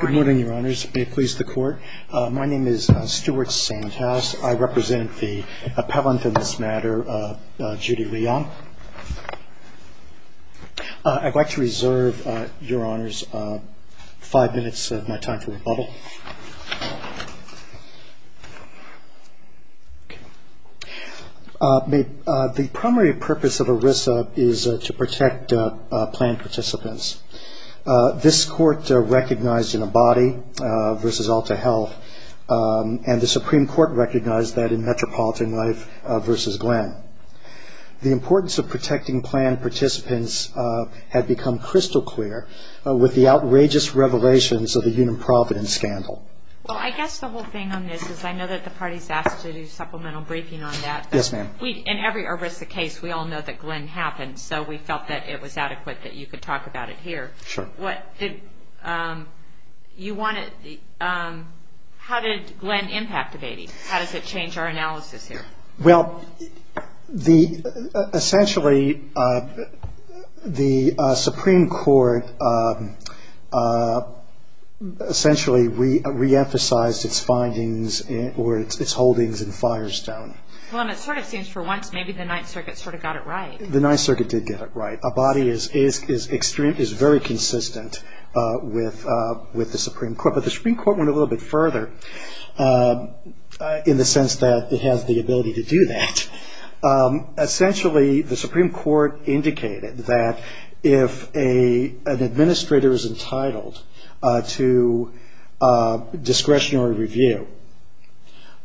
Good morning, Your Honors. May it please the Court. My name is Stuart Sandhouse. I represent the appellant in this matter, Judy Leung. I'd like to reserve, Your Honors, five minutes of my time to rebuttal. The primary purpose of ERISA is to protect planned participants. This Court recognized in Abadi v. Alta Health, and the Supreme Court recognized that in Metropolitan Life v. Glenn. The importance of protecting planned participants had become crystal clear with the outrageous revelations of the Union Providence scandal. Well, I guess the whole thing on this is I know that the party's asked to do supplemental briefing on that. Yes, ma'am. In every ERISA case, we all know that Glenn happened, so we felt that it was adequate that you could talk about it here. Sure. How did Glenn impact Abadi? How does it change our analysis here? Well, essentially, the Supreme Court essentially reemphasized its findings or its holdings in Firestone. Well, and it sort of seems for once maybe the Ninth Circuit sort of got it right. The Ninth Circuit did get it right. Abadi is very consistent with the Supreme Court. But the Supreme Court went a little bit further in the sense that it has the ability to do that. Essentially, the Supreme Court indicated that if an administrator is entitled to discretionary review,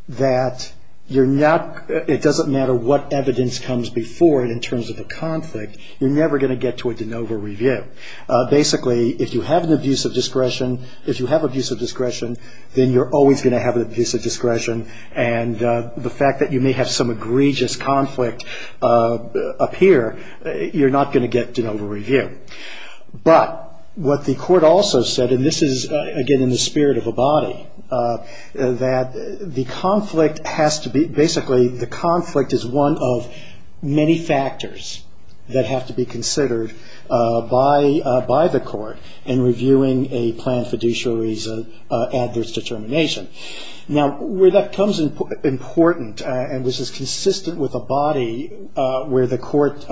that it doesn't matter what evidence comes before it in terms of a conflict, you're never going to get to a de novo review. Basically, if you have an abuse of discretion, if you have abuse of discretion, then you're always going to have an abuse of discretion. And the fact that you may have some egregious conflict up here, you're not going to get de novo review. But what the court also said, and this is, again, in the spirit of Abadi, that basically the conflict is one of many factors that have to be considered by the court in reviewing a planned fiduciary's adverse determination. Now, where that becomes important, and this is consistent with Abadi, where the court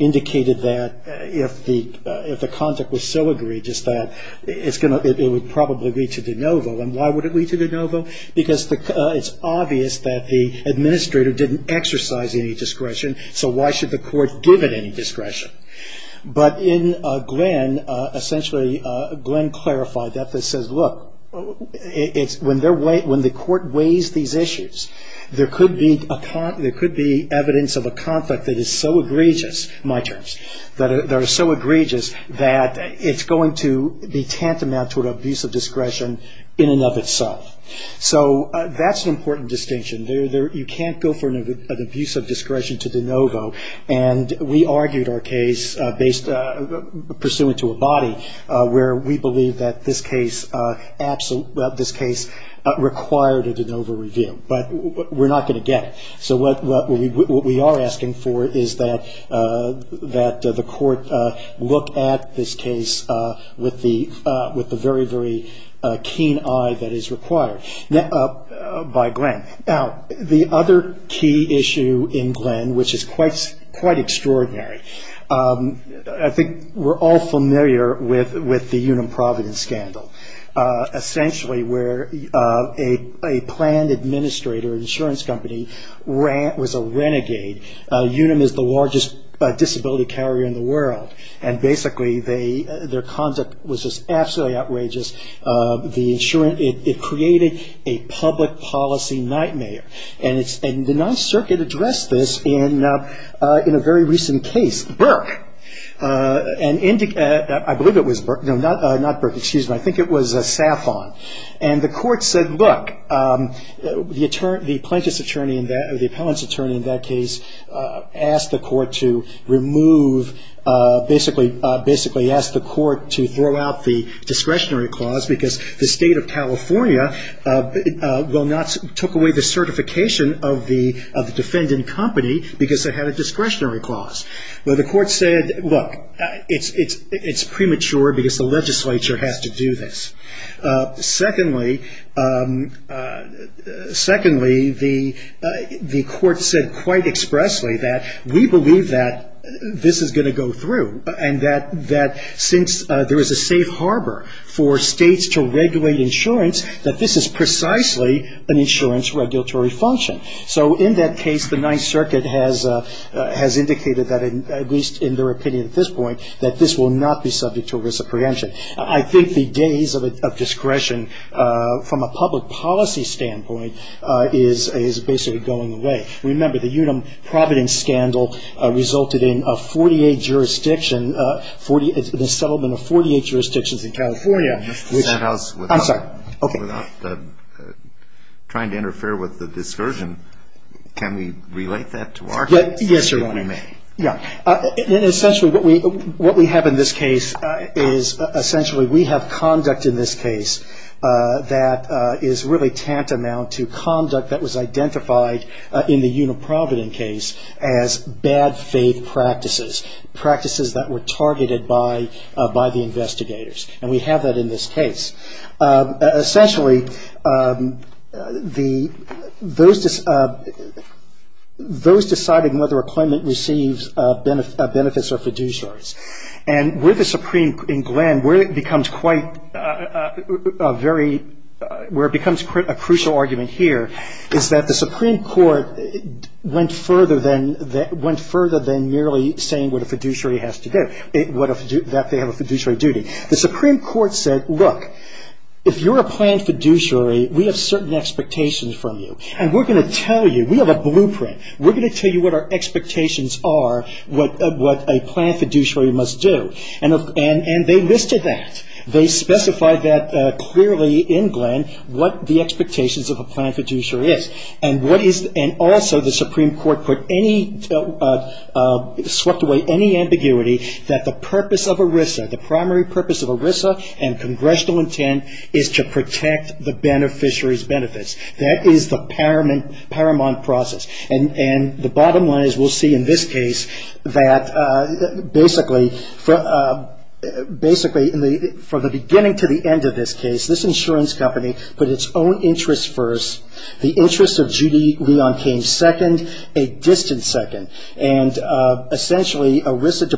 indicated that if the content was so egregious that it would probably lead to de novo, then why would it lead to de novo? Because it's obvious that the administrator didn't exercise any discretion, so why should the court give it any discretion? But in Glenn, essentially Glenn clarified that. This says, look, when the court weighs these issues, there could be evidence of a conflict that is so egregious, my terms, that it's going to be tantamount to an abuse of discretion in and of itself. So that's an important distinction. You can't go for an abuse of discretion to de novo, and we argued our case pursuant to Abadi where we believe that this case required a de novo review. But we're not going to get it. So what we are asking for is that the court look at this case with the very, very keen eye that is required by Glenn. Now, the other key issue in Glenn, which is quite extraordinary, I think we're all familiar with the Union Providence scandal, essentially where a planned administrator, an insurance company, was a renegade. Unum is the largest disability carrier in the world, and basically their conduct was just absolutely outrageous. It created a public policy nightmare, and the 9th Circuit addressed this in a very recent case. It was Burke. I believe it was Burke. No, not Burke. Excuse me. I think it was Saffon. And the court said, look, the plaintiff's attorney or the appellant's attorney in that case asked the court to remove, basically asked the court to throw out the discretionary clause because the state of California took away the certification of the defendant company because they had a discretionary clause. Well, the court said, look, it's premature because the legislature has to do this. Secondly, the court said quite expressly that we believe that this is going to go through, and that since there is a safe harbor for states to regulate insurance, that this is precisely an insurance regulatory function. So in that case, the 9th Circuit has indicated that, at least in their opinion at this point, that this will not be subject to risk of prevention. I think the days of discretion from a public policy standpoint is basically going away. Remember, the Unum-Providence scandal resulted in a 48-jurisdiction, the settlement of 48 jurisdictions in California. Mr. Sanhouse, without trying to interfere with the discursion, can we relate that to our case? Yes, Your Honor. If we may. Yeah. And essentially what we have in this case is essentially we have conduct in this case that is really tantamount to conduct that was identified in the Unum-Providence case as bad faith practices, practices that were targeted by the investigators. And we have that in this case. Essentially, those deciding whether a claimant receives benefits are fiduciaries. And in Glenn, where it becomes a crucial argument here is that the Supreme Court went further than merely saying what a fiduciary has to do, that they have a fiduciary duty. The Supreme Court said, look, if you're a planned fiduciary, we have certain expectations from you. And we're going to tell you. We have a blueprint. We're going to tell you what our expectations are, what a planned fiduciary must do. And they listed that. They specified that clearly in Glenn what the expectations of a planned fiduciary is. And also the Supreme Court swept away any ambiguity that the purpose of ERISA, the primary purpose of ERISA and congressional intent is to protect the beneficiaries' benefits. That is the paramount process. And the bottom line, as we'll see in this case, that basically from the beginning to the end of this case, this insurance company put its own interests first. The interests of Judy Leon came second, a distant second. And essentially, ERISA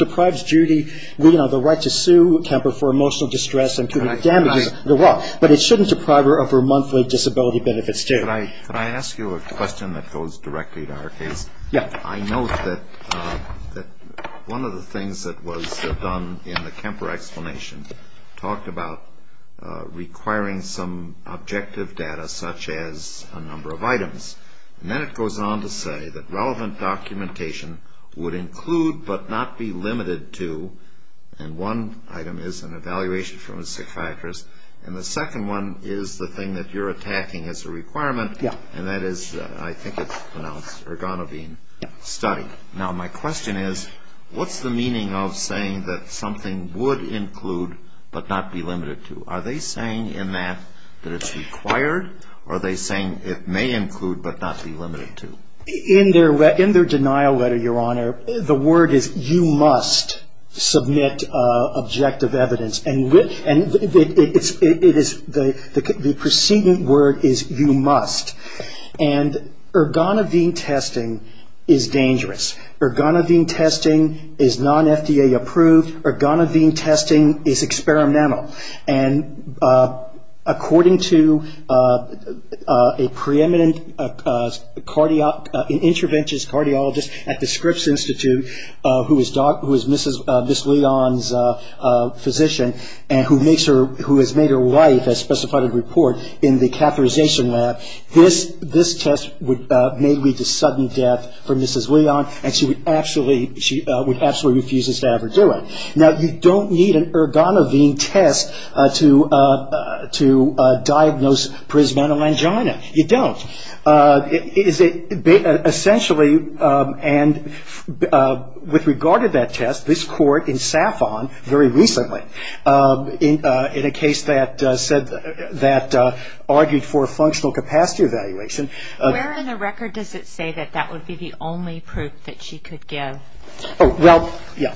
deprives Judy Leon the right to sue Kemper for emotional distress But it shouldn't deprive her of her monthly disability benefits, too. Could I ask you a question that goes directly to our case? Yes. I note that one of the things that was done in the Kemper explanation talked about requiring some objective data, such as a number of items. And then it goes on to say that relevant documentation would include but not be limited to, and one item is an evaluation from a psychiatrist, and the second one is the thing that you're attacking as a requirement, and that is, I think it's pronounced, Ergonobin study. Now, my question is, what's the meaning of saying that something would include but not be limited to? Are they saying in that that it's required, or are they saying it may include but not be limited to? In their denial letter, Your Honor, the word is, you must submit objective evidence, and the preceding word is, you must. And Ergonobin testing is dangerous. Ergonobin testing is non-FDA approved. Ergonobin testing is experimental. And according to a preeminent interventionist cardiologist at the Scripps Institute, who is Mrs. Leon's physician and who has made her wife, as specified in the report, in the catheterization lab, this test may lead to sudden death for Mrs. Leon, and she would absolutely refuse this to ever do it. Now, you don't need an Ergonobin test to diagnose prismatolangina. You don't. Essentially, and with regard to that test, this court in SAFON very recently, in a case that argued for a functional capacity evaluation. Where in the record does it say that that would be the only proof that she could give? Oh, well, yeah.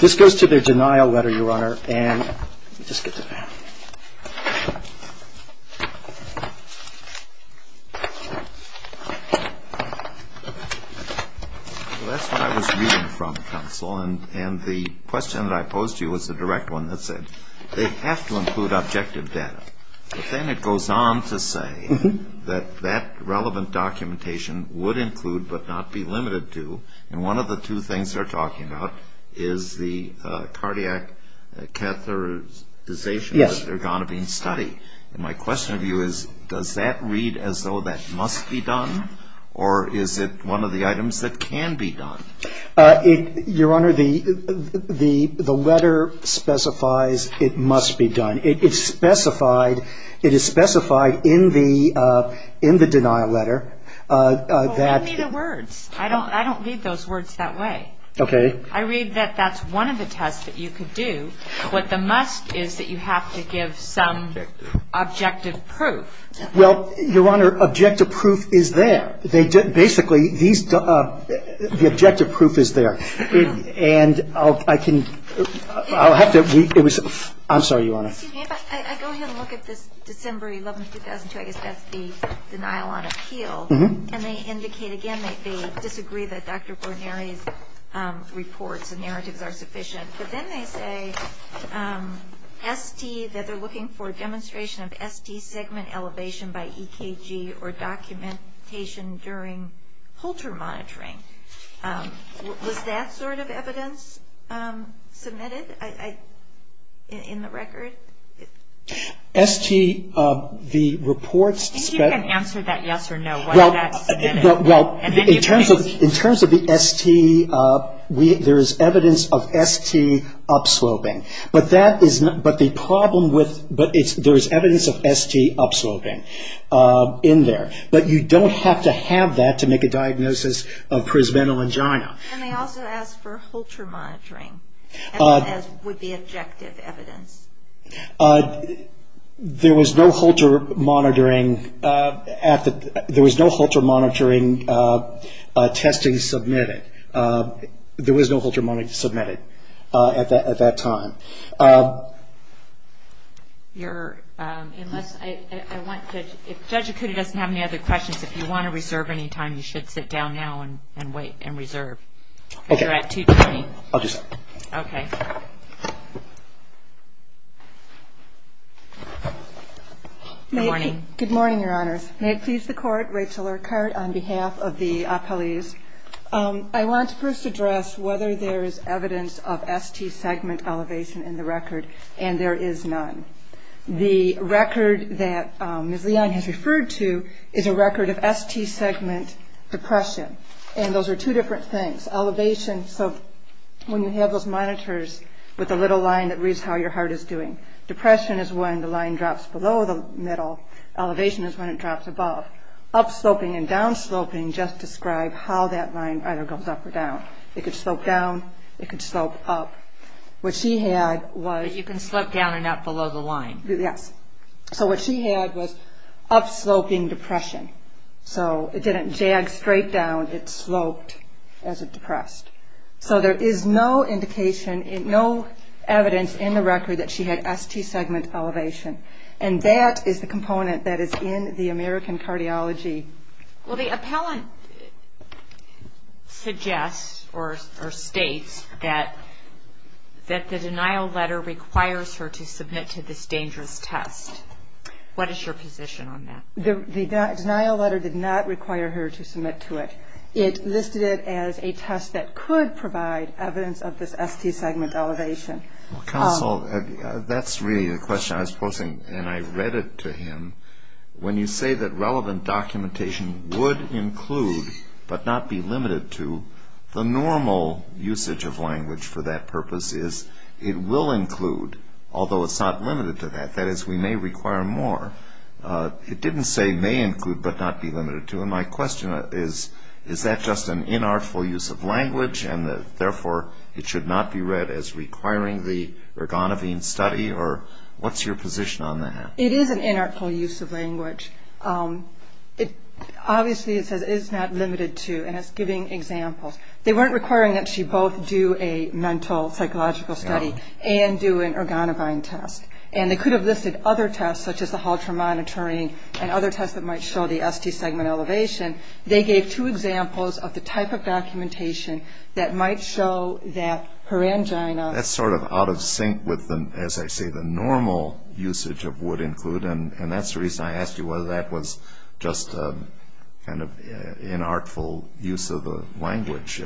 This goes to their denial letter, Your Honor. And let me just get to that. Well, that's what I was reading from, Counsel, and the question that I posed to you was the direct one that said, they have to include objective data. But then it goes on to say that that relevant documentation would include, but not be limited to, and one of the two things they're talking about is the cardiac catheterization Ergonobin study. And my question to you is, does that read as though that must be done, or is it one of the items that can be done? Your Honor, the letter specifies it must be done. It's specified, it is specified in the denial letter. Well, read me the words. I don't read those words that way. Okay. I read that that's one of the tests that you could do. What the must is that you have to give some objective proof. Well, Your Honor, objective proof is there. Basically, the objective proof is there. And I can, I'll have to, I'm sorry, Your Honor. Excuse me, but I go ahead and look at this December 11, 2002. I guess that's the denial on appeal. And they indicate, again, they disagree that Dr. Borneri's reports and narratives are sufficient. But then they say ST, that they're looking for a demonstration of ST segment elevation by EKG or documentation during Holter monitoring. Was that sort of evidence submitted in the record? ST, the reports. I think you can answer that yes or no. Well, in terms of the ST, there is evidence of ST upsloping. But that is not, but the problem with, but there is evidence of ST upsloping in there. But you don't have to have that to make a diagnosis of presbental angina. And they also ask for Holter monitoring as would be objective evidence. There was no Holter monitoring, there was no Holter monitoring testing submitted. There was no Holter monitoring submitted at that time. You're, unless, I want to, if Judge Acuda doesn't have any other questions, if you want to reserve any time, you should sit down now and wait and reserve. Okay. Because you're at 2.20. I'll do so. Okay. Good morning. Good morning, Your Honors. May it please the Court, Rachel Urquhart on behalf of the appellees. I want to first address whether there is evidence of ST segment elevation in the record. And there is none. The record that Ms. Leon has referred to is a record of ST segment depression. And those are two different things. Elevation, so when you have those monitors with the little line that reads how your heart is doing. Depression is when the line drops below the middle. Elevation is when it drops above. And so what Ms. Urquhart said is that up-sloping and down-sloping just describe how that line either goes up or down. It could slope down. It could slope up. What she had was. But you can slope down and up below the line. Yes. So what she had was up-sloping depression. So it didn't jag straight down. It sloped as it depressed. So there is no indication, no evidence in the record that she had ST segment elevation. And that is the component that is in the American cardiology. Well, the appellant suggests or states that the denial letter requires her to submit to this dangerous test. What is your position on that? The denial letter did not require her to submit to it. It listed it as a test that could provide evidence of this ST segment elevation. Well, counsel, that's really the question I was posing, and I read it to him. When you say that relevant documentation would include but not be limited to, the normal usage of language for that purpose is it will include, although it's not limited to that. That is, we may require more. It didn't say may include but not be limited to. Well, my question is, is that just an inartful use of language, and therefore it should not be read as requiring the Ergonavine study? Or what's your position on that? It is an inartful use of language. Obviously, it says it is not limited to, and it's giving examples. They weren't requiring that she both do a mental psychological study and do an Ergonavine test. And they could have listed other tests, such as the halter monitoring and other tests that might show the ST segment elevation. They gave two examples of the type of documentation that might show that her angina. That's sort of out of sync with, as I say, the normal usage of would include, and that's the reason I asked you whether that was just kind of inartful use of the language.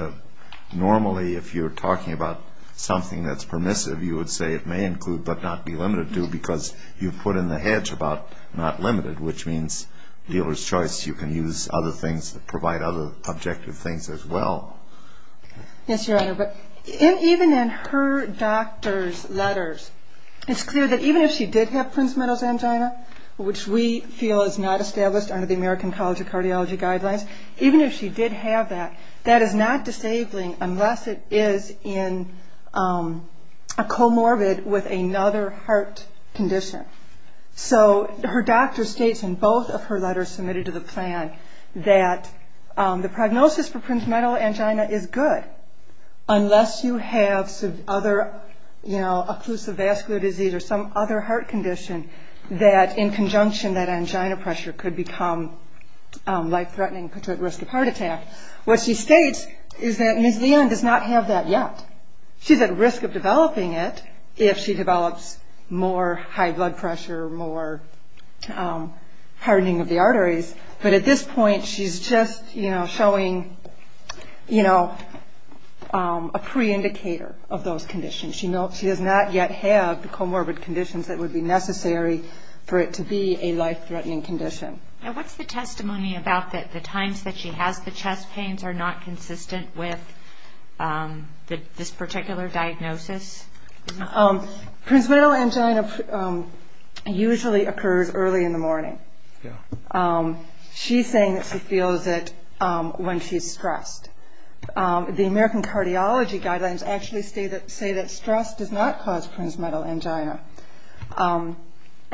Normally, if you're talking about something that's permissive, you would say it may include but not be limited to because you put in the hedge about not limited, which means dealer's choice. You can use other things that provide other objective things as well. Yes, Your Honor, but even in her doctor's letters, it's clear that even if she did have Prince-Meadow's angina, which we feel is not established under the American College of Cardiology guidelines, even if she did have that, that is not disabling unless it is comorbid with another heart condition. So her doctor states in both of her letters submitted to the plan that the prognosis for Prince-Meadow angina is good, unless you have some other occlusive vascular disease or some other heart condition that in conjunction that angina pressure could become life-threatening, put her at risk of heart attack. What she states is that Ms. Leon does not have that yet. She's at risk of developing it if she develops more high blood pressure, more hardening of the arteries, but at this point, she's just showing a pre-indicator of those conditions. She does not yet have the comorbid conditions that would be necessary for it to be a life-threatening condition. What's the testimony about that the times that she has the chest pains are not consistent with this particular diagnosis? Prince-Meadow angina usually occurs early in the morning. She's saying that she feels it when she's stressed. The American cardiology guidelines actually say that stress does not cause Prince-Meadow angina,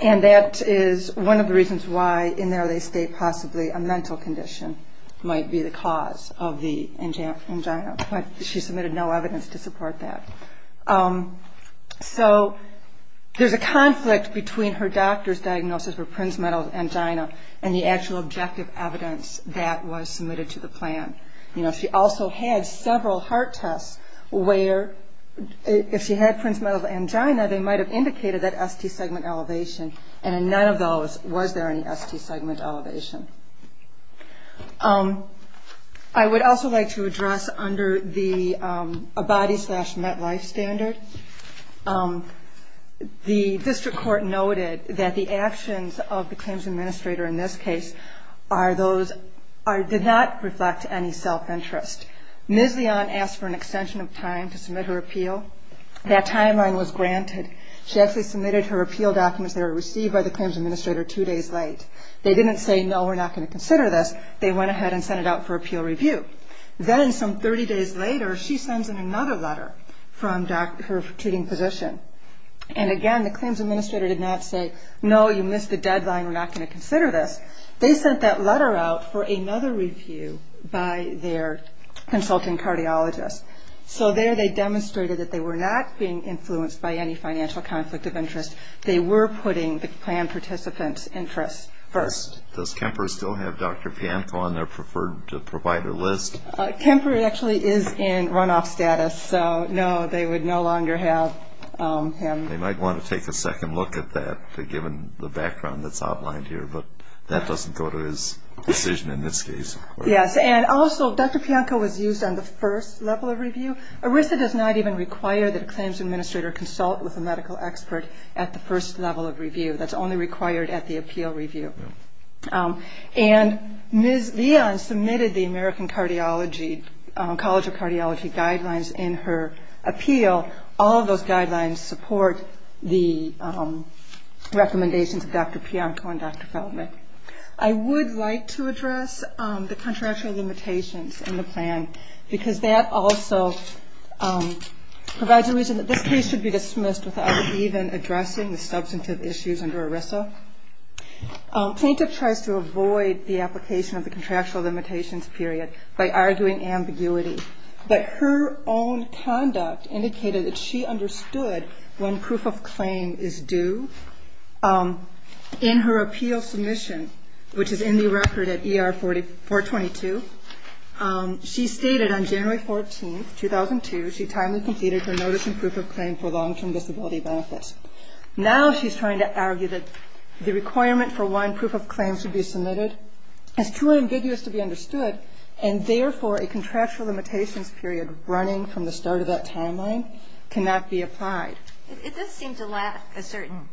and that is one of the reasons why, in the early state, possibly a mental condition might be the cause of the angina, but she submitted no evidence to support that. So there's a conflict between her doctor's diagnosis for Prince-Meadow angina and the actual objective evidence that was submitted to the plan. She also had several heart tests where, if she had Prince-Meadow angina, they might have indicated that ST-segment elevation, and in none of those was there any ST-segment elevation. I would also like to address, under the ABADI-slash-MetLife standard, the district court noted that the actions of the claims administrator in this case did not reflect any self-interest. Ms. Leon asked for an extension of time to submit her appeal. That timeline was granted. She actually submitted her appeal documents that were received by the claims administrator two days late. They didn't say, no, we're not going to consider this. They went ahead and sent it out for appeal review. Then some 30 days later, she sends in another letter from her treating physician. And again, the claims administrator did not say, no, you missed the deadline. We're not going to consider this. They sent that letter out for another review by their consulting cardiologist. So there they demonstrated that they were not being influenced by any financial conflict of interest. They were putting the plan participant's interests first. Does Kemper still have Dr. Pianco on their preferred provider list? Kemper actually is in runoff status. So, no, they would no longer have him. They might want to take a second look at that, given the background that's outlined here. But that doesn't go to his decision in this case. Yes. And also, Dr. Pianco was used on the first level of review. ERISA does not even require that a claims administrator consult with a medical expert at the first level of review. That's only required at the appeal review. And Ms. Leon submitted the American College of Cardiology guidelines in her appeal. All of those guidelines support the recommendations of Dr. Pianco and Dr. Feldman. I would like to address the contractual limitations in the plan, because that also provides a reason that this case should be dismissed without even addressing the substantive issues under ERISA. Plaintiff tries to avoid the application of the contractual limitations period by arguing ambiguity. But her own conduct indicated that she understood when proof of claim is due. In her appeal submission, which is in the record at ER 422, she stated on January 14, 2002, she timely completed her notice and proof of claim for long-term disability benefits. Now she's trying to argue that the requirement for one proof of claim should be submitted. It's too ambiguous to be understood, and therefore a contractual limitations period running from the start of that timeline cannot be applied. It does seem to lack a certain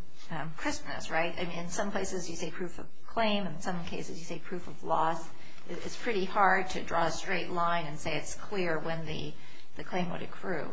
crispness, right? I mean, in some places you say proof of claim. In some cases you say proof of loss. It's pretty hard to draw a straight line and say it's clear when the claim would accrue.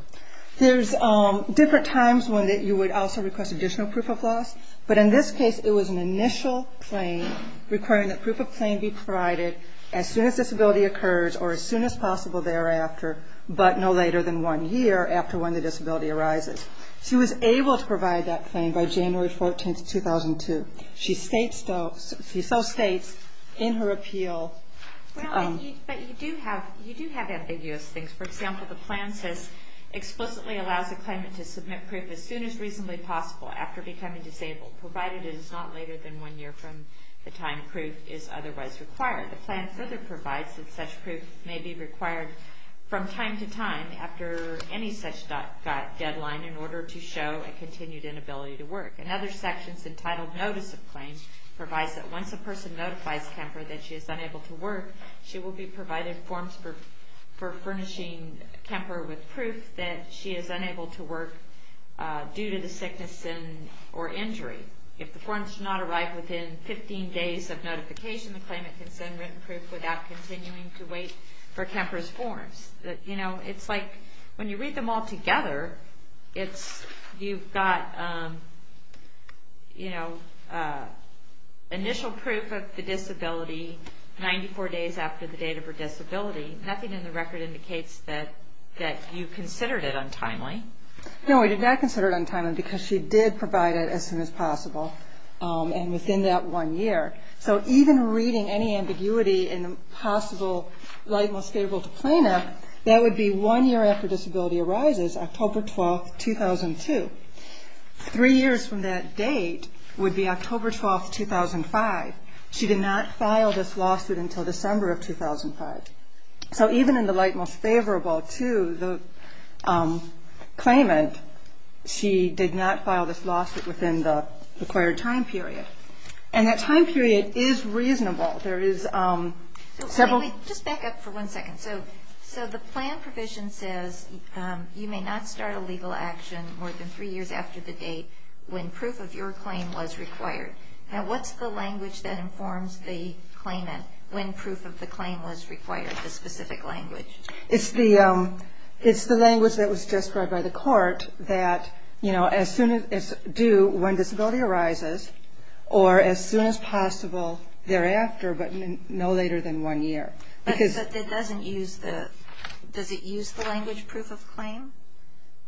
There's different times when you would also request additional proof of loss, but in this case it was an initial claim requiring that proof of claim be provided as soon as disability occurs or as soon as possible thereafter, but no later than one year after when the disability arises. She was able to provide that claim by January 14, 2002. She so states in her appeal... But you do have ambiguous things. For example, the plan says explicitly allows a claimant to submit proof as soon as reasonably possible after becoming disabled, provided it is not later than one year from the time proof is otherwise required. The plan further provides that such proof may be required from time to time Another section is entitled Notice of Claims. It provides that once a person notifies Kemper that she is unable to work, she will be provided forms for furnishing Kemper with proof that she is unable to work due to the sickness or injury. If the forms do not arrive within 15 days of notification, the claimant can send written proof without continuing to wait for Kemper's forms. It's like when you read them all together, you've got initial proof of the disability 94 days after the date of her disability. Nothing in the record indicates that you considered it untimely. No, we did not consider it untimely because she did provide it as soon as possible and within that one year. So even reading any ambiguity in the possible Light Most Favorable to Plaintiff, that would be one year after disability arises, October 12, 2002. Three years from that date would be October 12, 2005. She did not file this lawsuit until December of 2005. So even in the Light Most Favorable to the claimant, she did not file this lawsuit within the required time period. And that time period is reasonable. There is several... Just back up for one second. So the plan provision says you may not start a legal action more than three years after the date when proof of your claim was required. Now what's the language that informs the claimant when proof of the claim was required, the specific language? As soon as due when disability arises, or as soon as possible thereafter, but no later than one year. But it doesn't use the... Does it use the language proof of claim?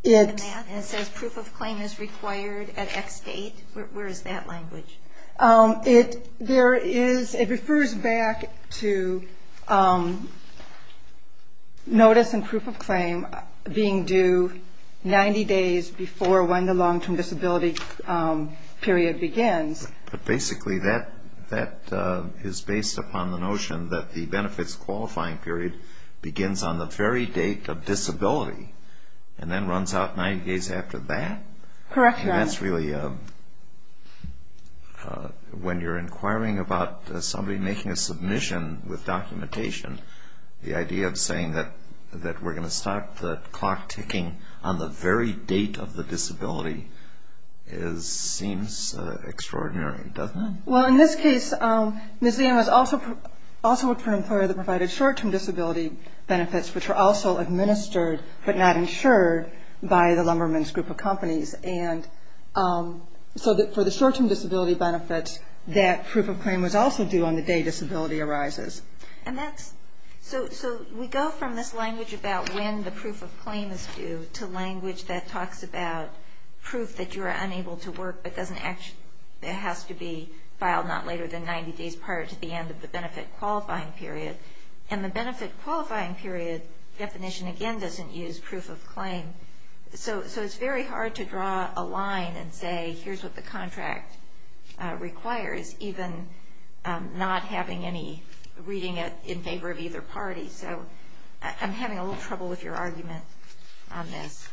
In the math it says proof of claim is required at X date. Where is that language? It refers back to notice and proof of claim being due 90 days before when the long-term disability period begins. But basically that is based upon the notion that the benefits qualifying period begins on the very date of disability and then runs out 90 days after that? Correct, Your Honor. And that's really... When you're inquiring about somebody making a submission with documentation, the idea of saying that we're going to start the clock ticking on the very date of the disability seems extraordinary, doesn't it? Well, in this case, Ms. Lehm has also worked for an employer that provided short-term disability benefits, which were also administered but not insured by the Lumberman's group of companies. And so for the short-term disability benefits, that proof of claim was also due on the day disability arises. So we go from this language about when the proof of claim is due to language that talks about proof that you are unable to work but it has to be filed not later than 90 days prior to the end of the benefit qualifying period. And the benefit qualifying period definition, again, doesn't use proof of claim. So it's very hard to draw a line and say, here's what the contract requires, even not having any... reading it in favor of either party. So I'm having a little trouble with your argument on this.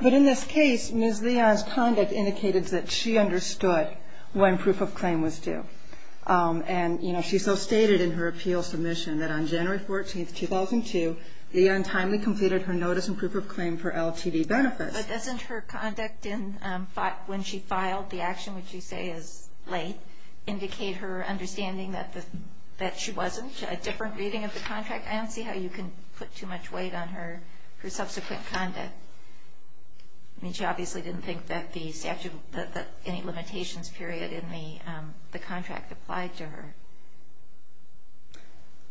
But in this case, Ms. Lehm's conduct indicated that she understood when proof of claim was due. And, you know, she so stated in her appeal submission that on January 14, 2002, Lehm timely completed her notice and proof of claim for LTD benefits. But doesn't her conduct when she filed the action, which you say is late, indicate her understanding that she wasn't? A different reading of the contract? I don't see how you can put too much weight on her subsequent conduct. I mean, she obviously didn't think that any limitations period in the contract applied to her.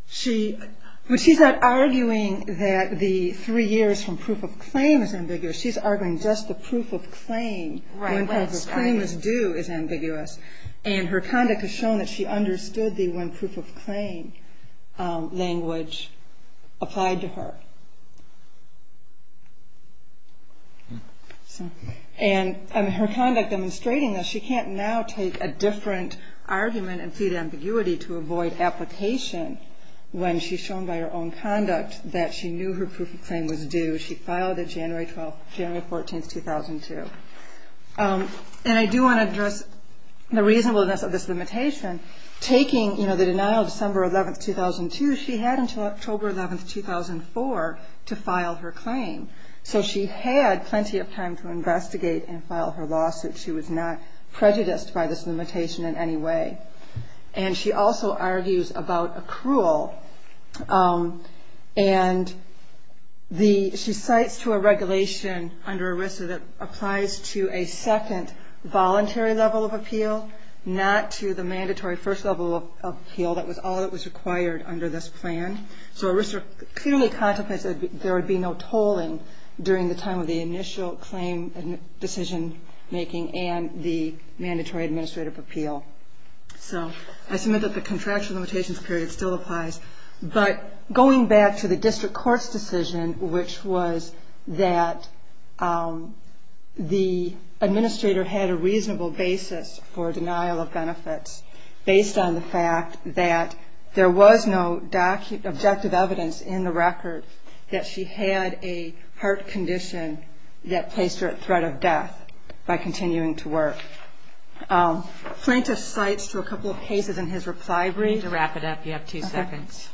She's not arguing that the three years from proof of claim is ambiguous. She's arguing just the proof of claim, when proof of claim is due, is ambiguous. And her conduct has shown that she understood the when proof of claim language applied to her. And her conduct demonstrating that she can't now take a different argument and plead ambiguity to avoid application when she's shown by her own conduct January 14, 2002. And I do want to address the reasonableness of this limitation. Taking, you know, the denial of December 11, 2002, she had until October 11, 2004, to file her claim. So she had plenty of time to investigate and file her lawsuit. She was not prejudiced by this limitation in any way. And she also argues about accrual. And she cites to a regulation under ERISA that applies to a second voluntary level of appeal, not to the mandatory first level of appeal. That was all that was required under this plan. So ERISA clearly contemplates that there would be no tolling during the time of the initial claim decision making and the mandatory administrative appeal. So I submit that the contractual limitations period still applies. But going back to the district court's decision, which was that the administrator had a reasonable basis for denial of benefits, based on the fact that there was no objective evidence in the record that she had a heart condition that placed her at threat of death by continuing to work. Plaintiff cites to a couple of cases in his reply brief. To wrap it up, you have two seconds.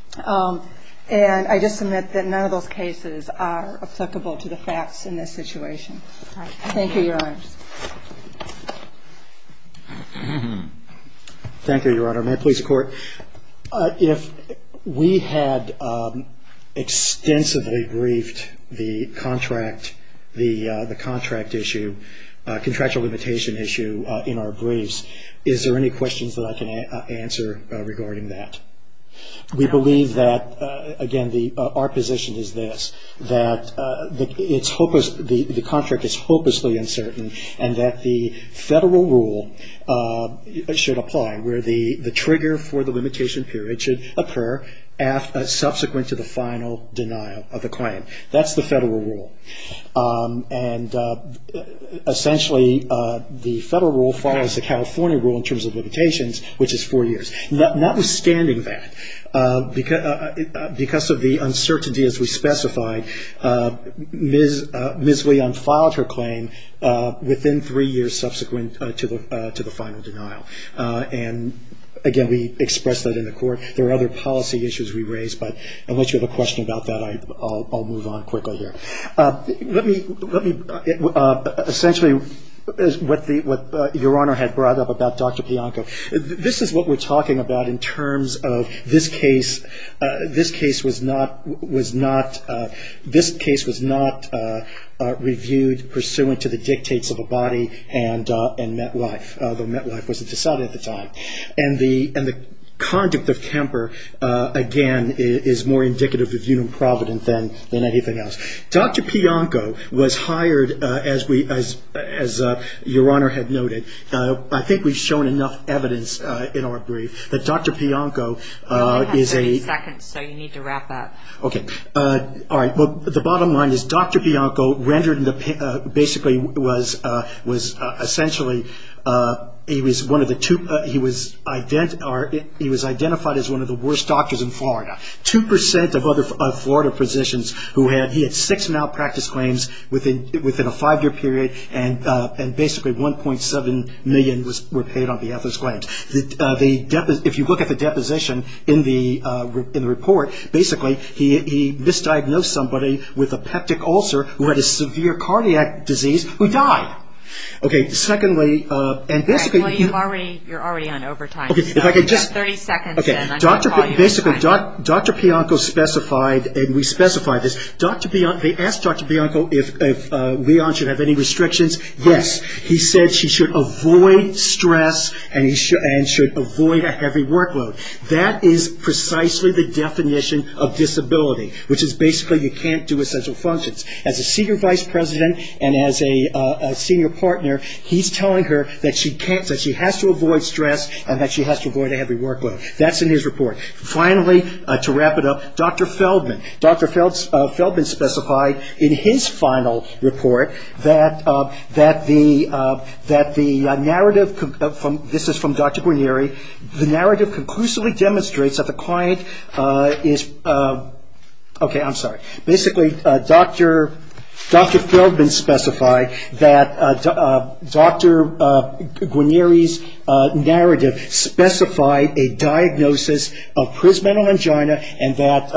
And I just submit that none of those cases are applicable to the facts in this situation. Thank you, Your Honor. Thank you, Your Honor. May it please the Court. If we had extensively briefed the contract issue, contractual limitation issue in our briefs, is there any questions that I can answer regarding that? We believe that, again, our position is this, that the contract is hopelessly uncertain and that the federal rule should apply, where the trigger for the limitation period should occur subsequent to the final denial of the claim. That's the federal rule. And essentially, the federal rule follows the California rule in terms of limitations, which is four years. Notwithstanding that, because of the uncertainty as we specified, Ms. Leon filed her claim within three years subsequent to the final denial. And, again, we expressed that in the Court. There are other policy issues we raised, but unless you have a question about that, I'll move on quickly here. Let me, essentially, what Your Honor had brought up about Dr. Bianco, this is what we're talking about in terms of this case. This case was not reviewed pursuant to the dictates of a body and met life, though met life wasn't decided at the time. And the conduct of temper, again, is more indicative of Union Providence than anything else. Dr. Bianco was hired, as Your Honor had noted, I think we've shown enough evidence in our brief that Dr. Bianco is a You only have 30 seconds, so you need to wrap up. Okay. All right. Well, the bottom line is Dr. Bianco rendered basically was essentially, he was one of the two, he was identified as one of the worst doctors in Florida. Two percent of other Florida physicians who had, he had six malpractice claims within a five-year period and basically 1.7 million were paid on behalf of his claims. If you look at the deposition in the report, basically, he misdiagnosed somebody with a peptic ulcer who had a severe cardiac disease who died. Okay. Secondly, and basically You're already on overtime. You have 30 seconds and I'm going to call you. Basically, Dr. Bianco specified, and we specified this, they asked Dr. Bianco if Leon should have any restrictions. Yes. He said she should avoid stress and should avoid a heavy workload. That is precisely the definition of disability, which is basically you can't do essential functions. As a senior vice president and as a senior partner, he's telling her that she can't, that she has to avoid stress and that she has to avoid a heavy workload. That's in his report. Finally, to wrap it up, Dr. Feldman. Dr. Feldman specified in his final report that the narrative This is from Dr. Guarneri. The narrative conclusively demonstrates that the client is Okay, I'm sorry. Basically, Dr. Feldman specified that Dr. Guarneri's narrative specified a diagnosis of prismatal angina and that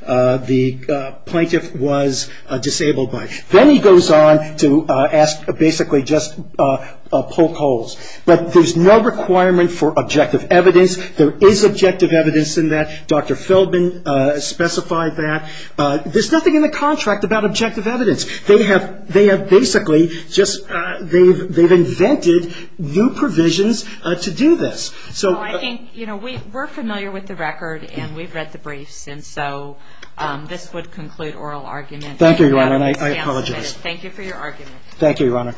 the plaintiff was disabled by it. Then he goes on to ask basically just poke holes. But there's no requirement for objective evidence. There is objective evidence in that. Dr. Feldman specified that. There's nothing in the contract about objective evidence. They have basically just, they've invented new provisions to do this. We're familiar with the record and we've read the briefs. And so this would conclude oral argument. Thank you, Your Honor. I apologize. Thank you for your argument. Thank you, Your Honor.